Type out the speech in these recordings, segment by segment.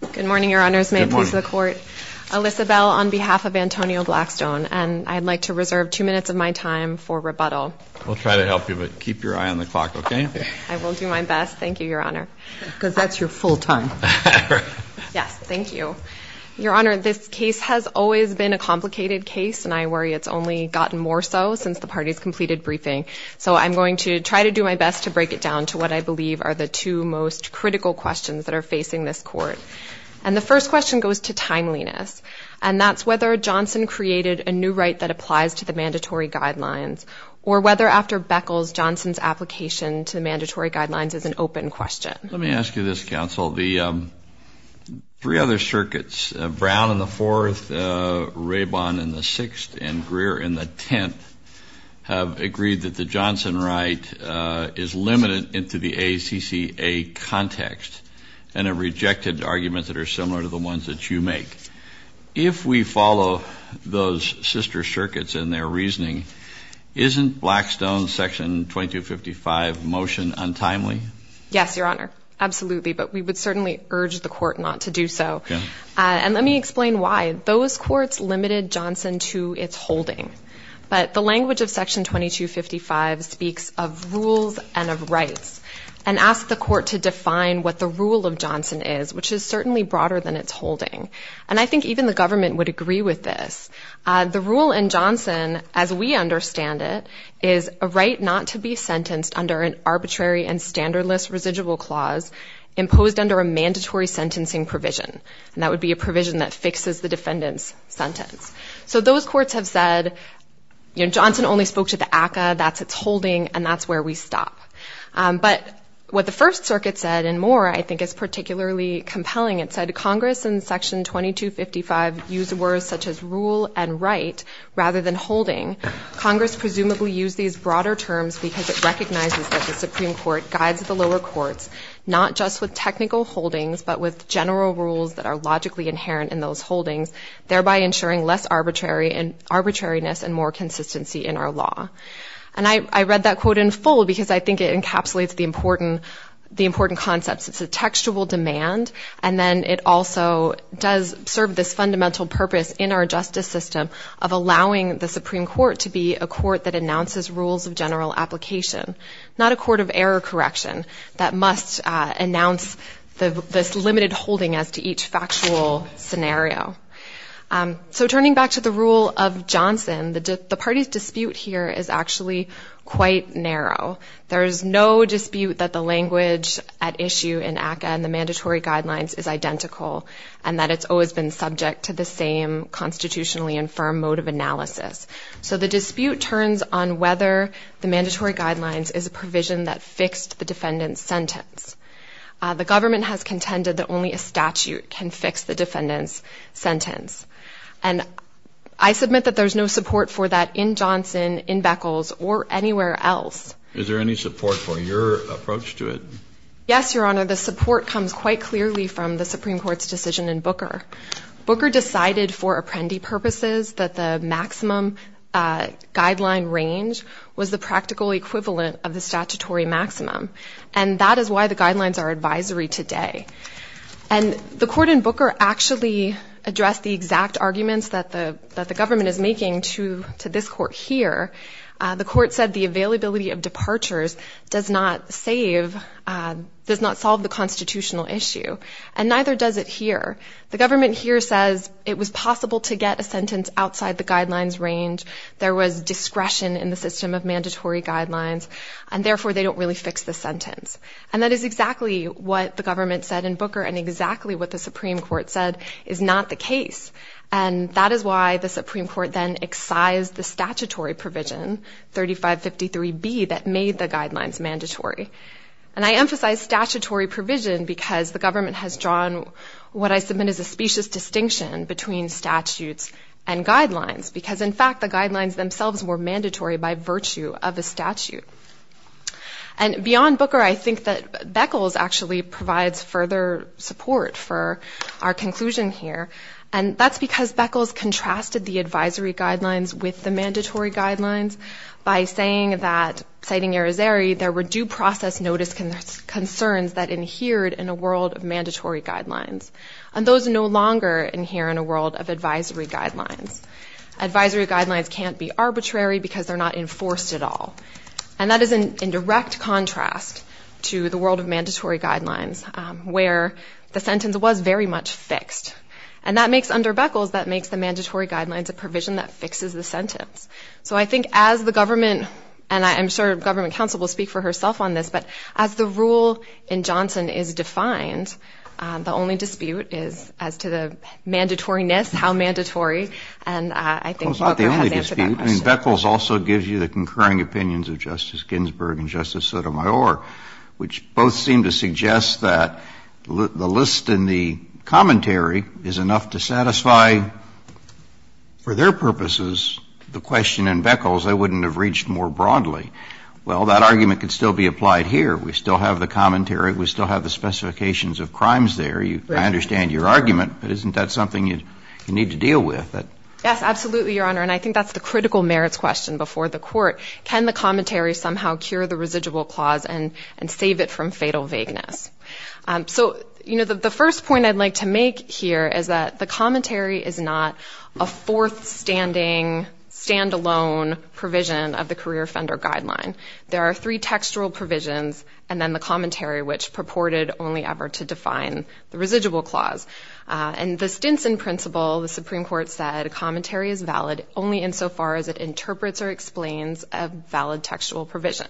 Good morning, your honors. May peace be with the court. Elisabelle, on behalf of Antonio Blackstone, and I'd like to reserve two minutes of my time for rebuttal. We'll try to help you, but keep your eye on the clock, okay? I will do my best. Thank you, your honor. Because that's your full time. Yes, thank you. Your honor, this case has always been a complicated case, and I worry it's only gotten more so since the party's completed briefing. So I'm going to try to do my best to break it down to what I believe are the two most critical questions that are facing this court. And the first question goes to timeliness, and that's whether Johnson created a new right that applies to the mandatory guidelines, or whether after Beckles, Johnson's application to the mandatory guidelines is an open question. Let me ask you this, counsel. The three other circuits, Brown in the fourth, Raybon in the fifth, is limited into the ACCA context, and have rejected arguments that are similar to the ones that you make. If we follow those sister circuits and their reasoning, isn't Blackstone's section 2255 motion untimely? Yes, your honor. Absolutely. But we would certainly urge the court not to do so. And let me explain why. Those courts limited Johnson to its holding. But the language of section 2255 speaks of rules and of rights, and asks the court to define what the rule of Johnson is, which is certainly broader than its holding. And I think even the government would agree with this. The rule in Johnson, as we understand it, is a right not to be sentenced under an arbitrary and standardless residual clause imposed under a mandatory sentencing provision. And that would be a provision that fixes the So those courts have said, you know, Johnson only spoke to the ACCA, that's its holding, and that's where we stop. But what the first circuit said, and more, I think is particularly compelling, it said Congress in section 2255 used words such as rule and right rather than holding. Congress presumably used these broader terms because it recognizes that the Supreme Court guides the lower courts, not just with technical holdings, but with general rules that are logically inherent in those holdings, thereby ensuring less arbitrariness and more consistency in our law. And I read that quote in full because I think it encapsulates the important concepts. It's a textual demand, and then it also does serve this fundamental purpose in our justice system of allowing the Supreme Court to be a court that announces rules of general application, not a court of error correction that must announce this factual scenario. So turning back to the rule of Johnson, the party's dispute here is actually quite narrow. There's no dispute that the language at issue in ACCA and the mandatory guidelines is identical, and that it's always been subject to the same constitutionally infirm mode of analysis. So the dispute turns on whether the mandatory guidelines is a provision that fixed the defendant's sentence. The government has contended that only a statute can fix the defendant's sentence. And I submit that there's no support for that in Johnson, in Beckles, or anywhere else. Is there any support for your approach to it? Yes, Your Honor. The support comes quite clearly from the Supreme Court's decision in Booker. Booker decided for apprendee purposes that the maximum guideline range was the practical equivalent of the statutory maximum, and that is why the guidelines are advisory today. And the court in Booker actually addressed the exact arguments that the government is making to this court here. The court said the availability of departures does not save, does not solve the constitutional issue, and neither does it here. The government here says it was possible to get a sentence outside the guidelines range, there was discretion in the system of mandatory guidelines, and therefore they don't really fix the sentence. And that is exactly what the government said in Booker, and exactly what the Supreme Court said is not the case. And that is why the Supreme Court then excised the statutory provision 3553B that made the guidelines mandatory. And I emphasize statutory provision because the government has drawn what I submit is a specious distinction between statutes and mandatory by virtue of a statute. And beyond Booker, I think that Beckles actually provides further support for our conclusion here, and that's because Beckles contrasted the advisory guidelines with the mandatory guidelines by saying that, citing Arizeri, there were due process notice concerns that adhered in a world of mandatory guidelines. And those no longer adhere in a world of advisory guidelines. Advisory guidelines can't be arbitrary because they're not enforced at all. And that is in direct contrast to the world of mandatory guidelines, where the sentence was very much fixed. And that makes, under Beckles, that makes the mandatory guidelines a provision that fixes the sentence. So I think as the government, and I'm sure government counsel will speak for herself on this, but as the rule in Johnson is defined, the only dispute is as to the mandatoriness, how mandatory, and I think Booker has answered that question. Kennedy, of course, is not the only dispute. I mean, Beckles also gives you the concurring opinions of Justice Ginsburg and Justice Sotomayor, which both seem to suggest that the list in the commentary is enough to satisfy, for their purposes, the question in Beckles they wouldn't have reached more broadly. Well, that argument could still be applied here. We still have the commentary. We still have the specifications of crimes there. Right. And I understand your argument, but isn't that something you need to deal with? Yes, absolutely, Your Honor. And I think that's the critical merits question before the court. Can the commentary somehow cure the residual clause and save it from fatal vagueness? So the first point I'd like to make here is that the commentary is not a fourth-standing, stand-alone provision of the career offender guideline. There are three textual provisions, and then the commentary, which purported only ever to define the residual clause. And the Stinson principle, the Supreme Court said, a commentary is valid only insofar as it interprets or explains a valid textual provision.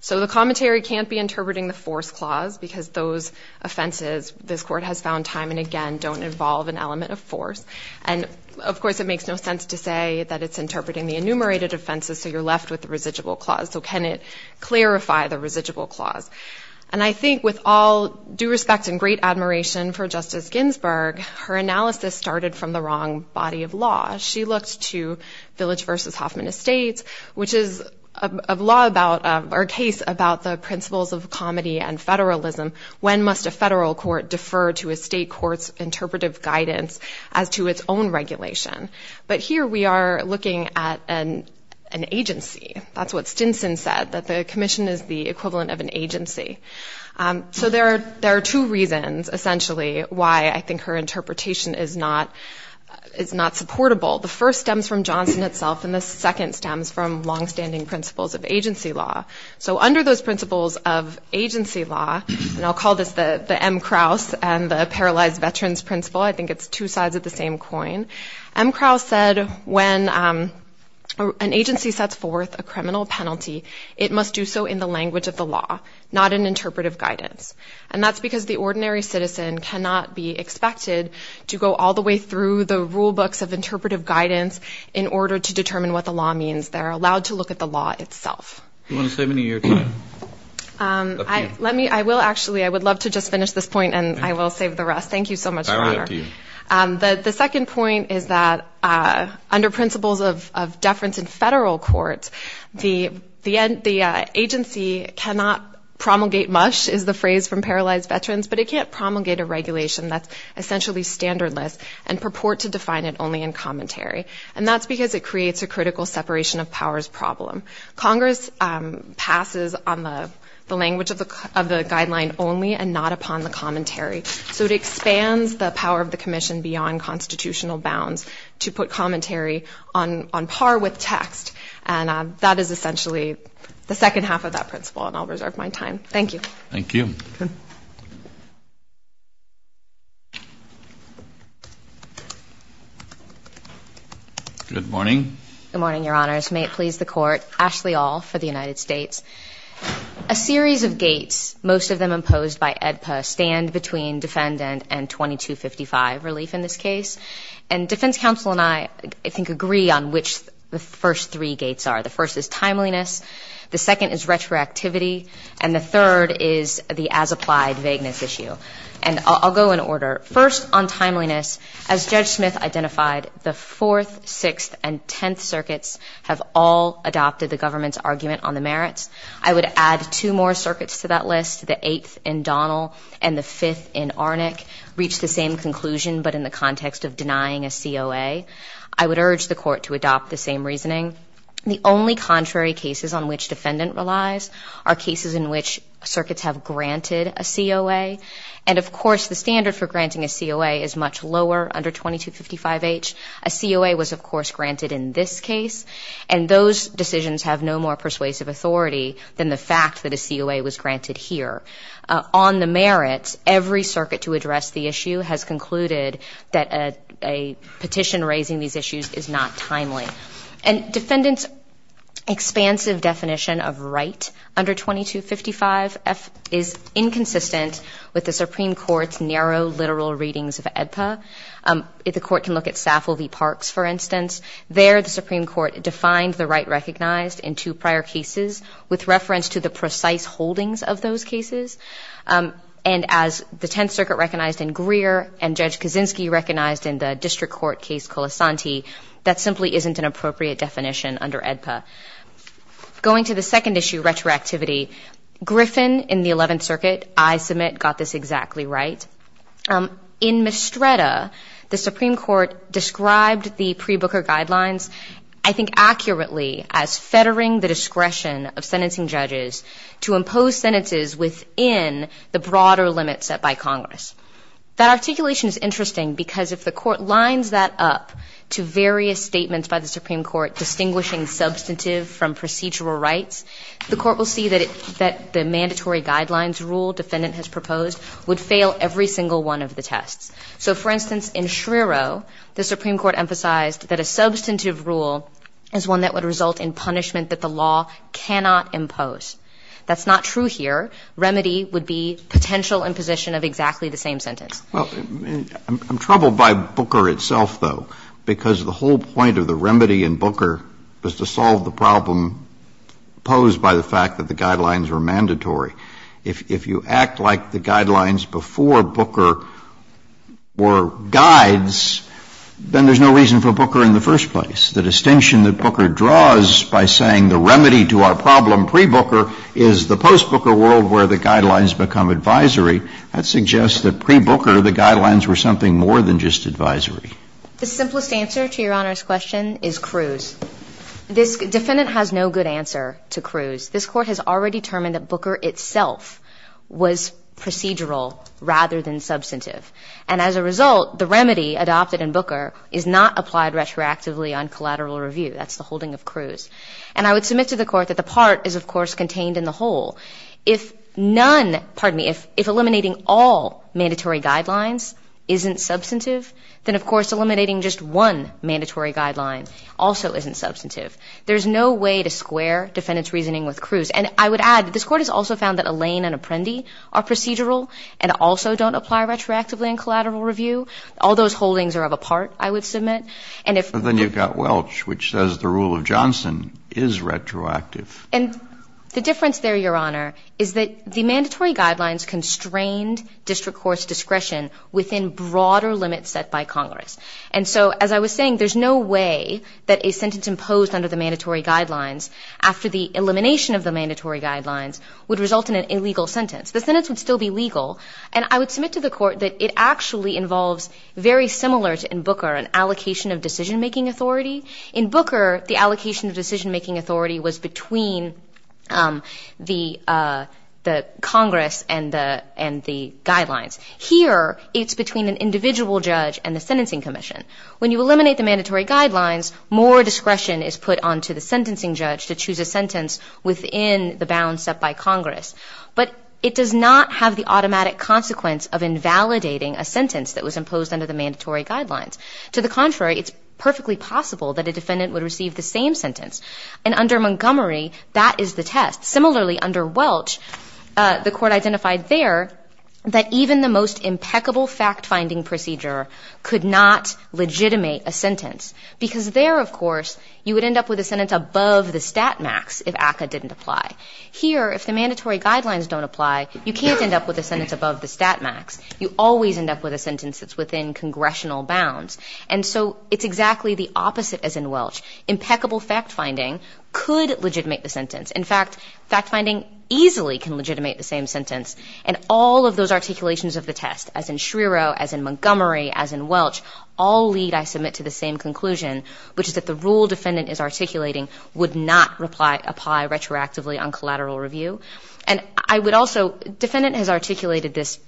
So the commentary can't be interpreting the force clause because those offenses, this Court has found time and again, don't involve an element of force. And, of course, it makes no sense to say that it's interpreting the enumerated offenses, so you're left with the residual clause. So can it clarify the residual clause? And I think with all due respect and great admiration for Justice Ginsburg, her analysis started from the wrong body of law. She looked to Village v. Hoffman Estates, which is a case about the principles of comedy and federalism. When must a federal court defer to a state court's interpretive guidance as to its own regulation? But here we are looking at an agency. That's what Stinson said, that the commission is the equivalent of an agency. So there are two reasons, essentially, why I think her interpretation is not supportable. The first stems from Johnson itself, and the second stems from longstanding principles of agency law. So under those principles of agency law, and I'll call this the M. Krause and the paralyzed veterans principle, I think it's two sides of the same coin, M. Krause said when an agency sets forth a criminal penalty, it must do so in the language of the law, not in interpretive guidance. And that's because the ordinary citizen cannot be expected to go all the way through the rule books of interpretive guidance in order to determine what the law means. They're allowed to look at the law itself. Do you want to save me any of your time? I will, actually. I would love to just finish this point, and I will save the rest. Thank you so much, Your Honor. The second point is that under principles of deference in federal courts, the agency cannot promulgate much, is the phrase from paralyzed veterans, but it can't promulgate a regulation that's essentially standardless and purport to define it only in commentary. And that's because it creates a critical separation of powers problem. Congress passes on the language of the guideline only and not upon the commentary. So it expands the power of the commission beyond constitutional bounds to put commentary on par with text. And that is essentially the second half of that principle. And I'll reserve my time. Thank you. Thank you. Good morning. Good morning, Your Honors. May it please the Court. Ashley Aul for the United States. A series of gates, most of them imposed by AEDPA, stand between defendant and 2255 relief in this case. And defense counsel and I, I think, agree on which the first three gates are. The first is timeliness, the second is retroactivity, and the third is the as-applied vagueness issue. And I'll go in order. First, on timeliness, as Judge Smith identified, the Fourth, Sixth, and Tenth Circuits have all adopted the government's argument on the merits. I would add two more circuits to that list, the Eighth in Donnell and the Fifth in Arnick, reach the same conclusion but in the context of denying a COA. I would urge the Court to adopt the same reasoning. The only contrary cases on which defendant relies are cases in which circuits have granted a COA. And, of course, the standard for granting a COA is much lower under 2255H. A COA was, of course, granted in this case. And those decisions have no more persuasive authority than the fact that a COA was granted here. On the merits, every circuit to address the issue has concluded that a petition raising these issues is not timely. And defendant's expansive definition of right under 2255F is inconsistent with the Supreme Court's narrow literal readings of AEDPA. The Court can look at Saffel v. Parks, for instance. There, the Supreme Court defined the right recognized in two prior cases with reference to the precise holdings of those cases. And as the Tenth Circuit recognized in Greer and Judge Kaczynski recognized in the District Court case Colasanti, that simply isn't an appropriate definition under AEDPA. Going to the second issue, retroactivity, Griffin in the Eleventh Circuit, I submit, got this exactly right. In Mistretta, the Supreme Court described the pre-Booker guidelines, I think, accurately as fettering the discretion of sentencing judges to impose sentences within the broader limits set by Congress. That articulation is interesting because if the Court lines that up to various statements by the Supreme Court distinguishing substantive from procedural rights, the Court will see that the mandatory guidelines rule that the defendant has proposed would fail every single one of the tests. So, for instance, in Schrierow, the Supreme Court emphasized that a substantive rule is one that would result in punishment that the law cannot impose. That's not true here. Remedy would be potential imposition of exactly the same sentence. I'm troubled by Booker itself, though, because the whole point of the remedy in Booker was to solve the problem posed by the fact that the guidelines were mandatory. If you act like the guidelines before Booker were guides, then there's no reason for Booker in the first place. The distinction that Booker draws by saying the remedy to our problem pre-Booker is the post-Booker world where the guidelines become advisory, that suggests that pre-Booker the guidelines were something more than just advisory. The simplest answer to Your Honor's question is Cruz. This defendant has no good answer to Cruz. This Court has already determined that Booker itself was procedural rather than substantive. And as a result, the remedy adopted in Booker is not applied retroactively on collateral review. That's the holding of Cruz. And I would submit to the Court that the part is, of course, contained in the whole. If eliminating all mandatory guidelines isn't substantive, then, of course, eliminating just one mandatory guideline also isn't substantive. There's no way to square defendant's reasoning with Cruz. And I would add that this Court has also found that Alain and Apprendi are procedural and also don't apply retroactively on collateral review. All those holdings are of a part, I would submit. Then you've got Welch, which says the rule of Johnson is retroactive. And the difference there, Your Honor, is that the mandatory guidelines constrained district court's discretion within broader limits set by Congress. And so, as I was saying, there's no way that a sentence imposed under the mandatory guidelines after the elimination of the mandatory guidelines would result in an illegal sentence. The sentence would still be legal. And I would submit to the Court that it actually involves, very similar to in Booker, an allocation of decision-making authority. In Booker, the allocation of decision-making authority was between the Congress and the guidelines. Here, it's between an individual judge and the sentencing commission. When you eliminate the mandatory guidelines, more discretion is put onto the sentencing judge to choose a sentence within the bounds set by Congress. But it does not have the automatic consequence of invalidating a sentence that was imposed under the mandatory guidelines. To the contrary, it's perfectly possible that a defendant would receive the same sentence. And under Montgomery, that is the test. Similarly, under Welch, the Court identified there that even the most impeccable fact-finding procedure could not legitimate a sentence. Because there, of course, you would end up with a sentence above the stat max if ACCA didn't apply. Here, if the mandatory guidelines don't apply, you can't end up with a sentence above the stat max. You always end up with a sentence that's within congressional bounds. And so, it's exactly the opposite as in Welch. Impeccable fact-finding could legitimate the sentence. In fact, fact-finding easily can legitimate the same sentence. And all of those articulations of the test, as in Schrierow, as in Montgomery, as in Welch, all lead, I submit, to the same conclusion, which is that the rule defendant is articulating would not apply retroactively on collateral review. And I would also, defendant has articulated this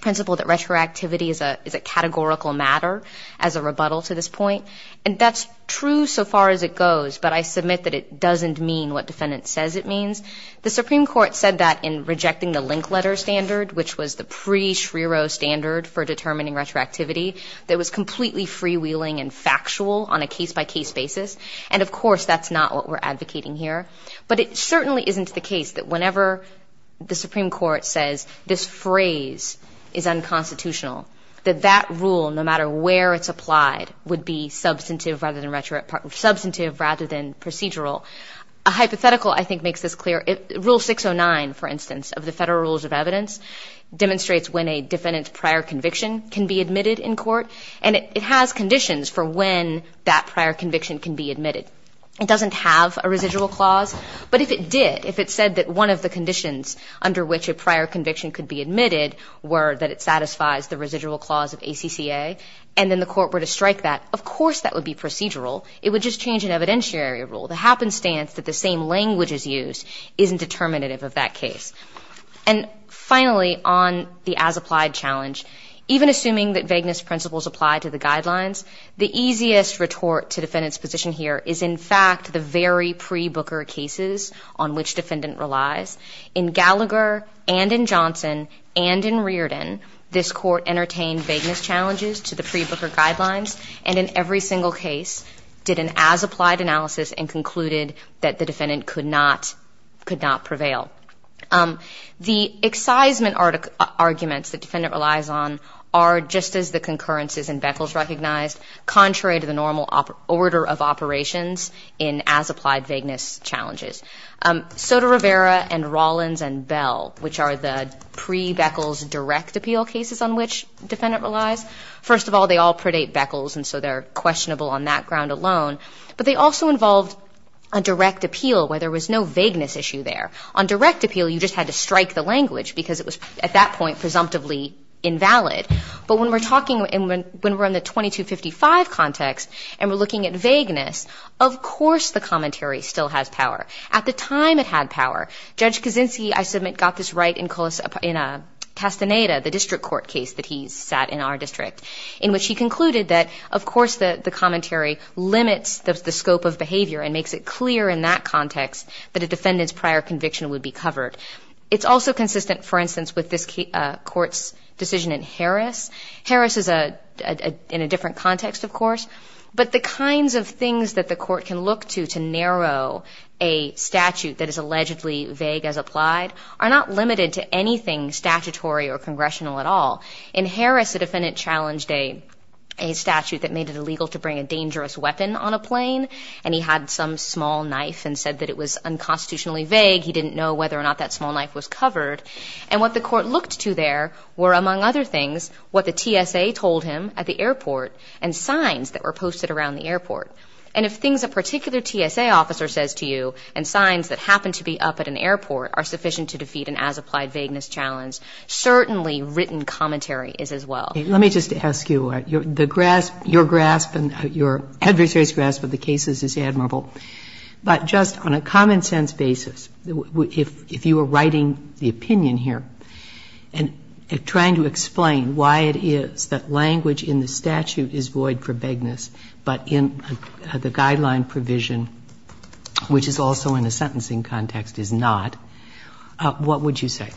principle that retroactivity is a categorical matter as a rebuttal to this point. And that's true so far as it goes, but I submit that it doesn't mean what defendant says it means. The Supreme Court said that in rejecting the link letter standard, which was the pre-Schrierow standard for determining retroactivity, that was completely freewheeling and factual on a case-by-case basis. And, of course, that's not what we're advocating here. But it certainly isn't the case that whenever the Supreme Court says this phrase is unconstitutional, that that rule, no matter where it's applied, would be substantive rather than procedural. A hypothetical, I think, makes this clear. Rule 609, for instance, of the Federal Rules of Evidence, demonstrates when a defendant's prior conviction can be admitted in court. And it has conditions for when that prior conviction can be admitted. It doesn't have a residual clause. But if it did, if it said that one of the conditions under which a prior conviction could be admitted were that it satisfies the residual clause of ACCA, and then the court were to strike that, of course that would be procedural. It would just change an evidentiary rule. The happenstance that the same language is used isn't determinative of that case. And, finally, on the as-applied challenge, even assuming that vagueness principles apply to the guidelines, the easiest retort to defendant's position here is, in fact, the very pre-Booker cases on which defendant relies. In Gallagher and in Johnson and in Reardon, this court entertained vagueness challenges to the pre-Booker guidelines, and in every single case did an as-applied analysis and concluded that the defendant could not prevail. The excisement arguments that defendant relies on are, just as the concurrences and Beckles recognized, contrary to the normal order of operations in as-applied vagueness challenges. Soto-Rivera and Rollins and Bell, which are the pre-Beckles direct appeal cases on which defendant relies, first of all, they all predate Beckles, and so they're questionable on that ground alone. But they also involved a direct appeal where there was no vagueness issue there. On direct appeal, you just had to strike the language because it was, at that point, presumptively invalid. But when we're talking, when we're in the 2255 context and we're looking at vagueness, of course the commentary still has power. At the time, it had power. Judge Kaczynski, I submit, got this right in Castaneda, the district court case that he sat in our district, in which he concluded that, of course, the commentary limits the scope of behavior and makes it clear in that context that a defendant's prior conviction would be covered. It's also consistent, for instance, with this court's decision in Harris. Harris is in a different context, of course, but the kinds of things that the court can look to to narrow a statute that is allegedly vague as applied are not limited to anything statutory or congressional at all. In Harris, the defendant challenged a statute that made it illegal to bring a dangerous weapon on a plane, and he had some small knife and said that it was unconstitutionally vague. He didn't know whether or not that small knife was covered. And what the court looked to there were, among other things, what the TSA told him at the airport and signs that were posted around the airport. And if things a particular TSA officer says to you and signs that happen to be up at an airport are sufficient to defeat an as-applied vagueness challenge, certainly written commentary is as well. Let me just ask you. Your adversary's grasp of the cases is admirable, but just on a common-sense basis, if you were writing the opinion here and trying to explain why it is that language in the statute is void for vagueness but in the guideline provision, which is also in a sentencing context, is not, what would you say?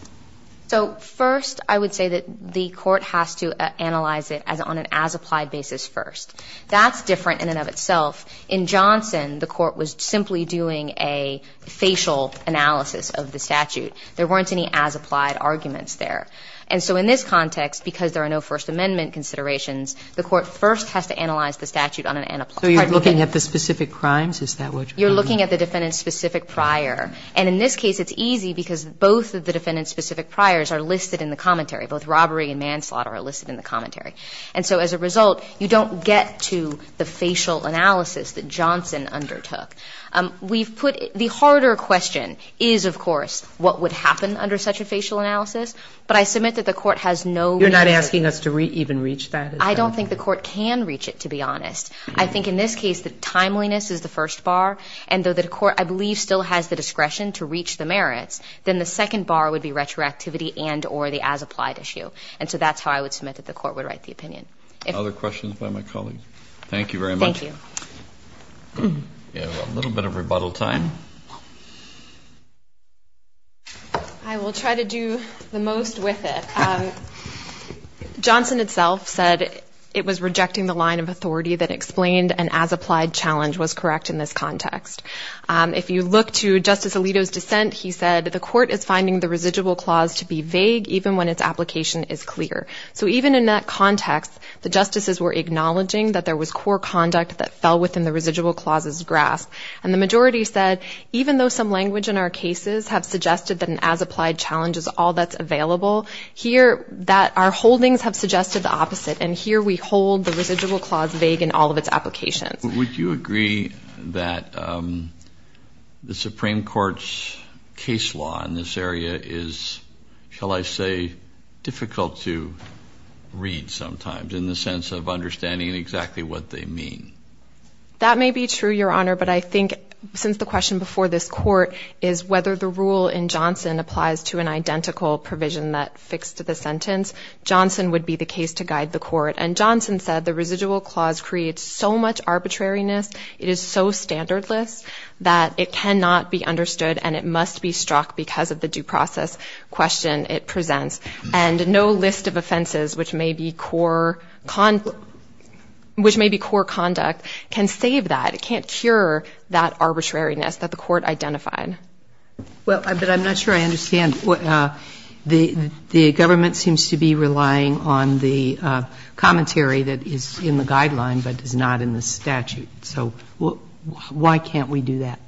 So first, I would say that the court has to analyze it on an as-applied basis first. That's different in and of itself. In Johnson, the court was simply doing a facial analysis of the statute. There weren't any as-applied arguments there. And so in this context, because there are no First Amendment considerations, the court first has to analyze the statute on an as-applied basis. So you're looking at the specific crimes? Is that what you're looking at? You're looking at the defendant's specific prior. And in this case, it's easy because both of the defendant's specific priors are listed in the commentary. Both robbery and manslaughter are listed in the commentary. And so as a result, you don't get to the facial analysis that Johnson undertook. We've put the harder question is, of course, what would happen under such a facial analysis. But I submit that the court has no reason to. You're not asking us to even reach that? I don't think the court can reach it, to be honest. I think in this case, the timeliness is the first bar. And though the court, I believe, still has the discretion to reach the merits, then the second bar would be retroactivity and or the as-applied issue. And so that's how I would submit that the court would write the opinion. Other questions by my colleagues? Thank you very much. Thank you. A little bit of rebuttal time. I will try to do the most with it. Johnson itself said it was rejecting the line of authority that explained an as-applied challenge was correct in this context. If you look to Justice Alito's dissent, he said the court is finding the residual clause to be vague even when its application is clear. So even in that context, the justices were acknowledging that there was core conduct that fell within the residual clause's grasp. And the majority said even though some language in our cases have suggested that an as-applied challenge is all that's available, here that our holdings have suggested the opposite. And here we hold the residual clause vague in all of its applications. Would you agree that the Supreme Court's case law in this area is, shall I say, difficult to read sometimes in the sense of understanding exactly what they mean? That may be true, Your Honor, but I think since the question before this court is whether the rule in Johnson applies to an identical provision that fixed the sentence, Johnson would be the case to guide the court. And Johnson said the residual clause creates so much arbitrariness, it is so standardless that it cannot be understood and it must be struck because of the due process question it presents. And no list of offenses which may be core conduct can save that. It can't cure that arbitrariness that the court identified. Well, but I'm not sure I understand. The government seems to be relying on the commentary that is in the guideline but is not in the statute. So why can't we do that?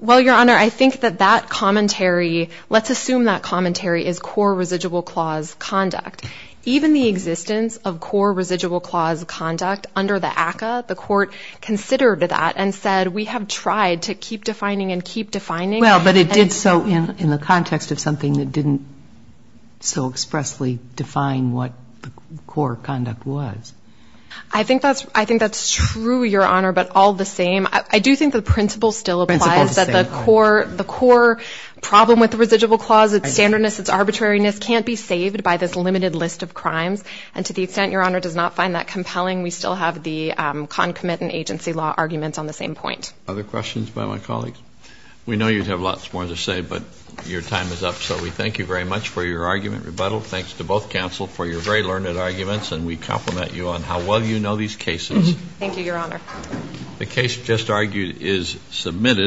Well, Your Honor, I think that that commentary, let's assume that commentary is core residual clause conduct. Even the existence of core residual clause conduct under the ACCA, the court considered that and said we have tried to keep defining and keep defining. Well, but it did so in the context of something that didn't so expressly define what the core conduct was. I think that's true, Your Honor, but all the same, I do think the principle still applies that the core problem with the residual clause, its standardness, its arbitrariness, can't be saved by this limited list of crimes. And to the extent Your Honor does not find that compelling, we still have the concomitant agency law arguments on the same point. Other questions by my colleagues? We know you have lots more to say, but your time is up. So we thank you very much for your argument, rebuttal. Thanks to both counsel for your very learned arguments and we compliment you on how well you know these cases. Thank you, Your Honor. The case just argued is submitted.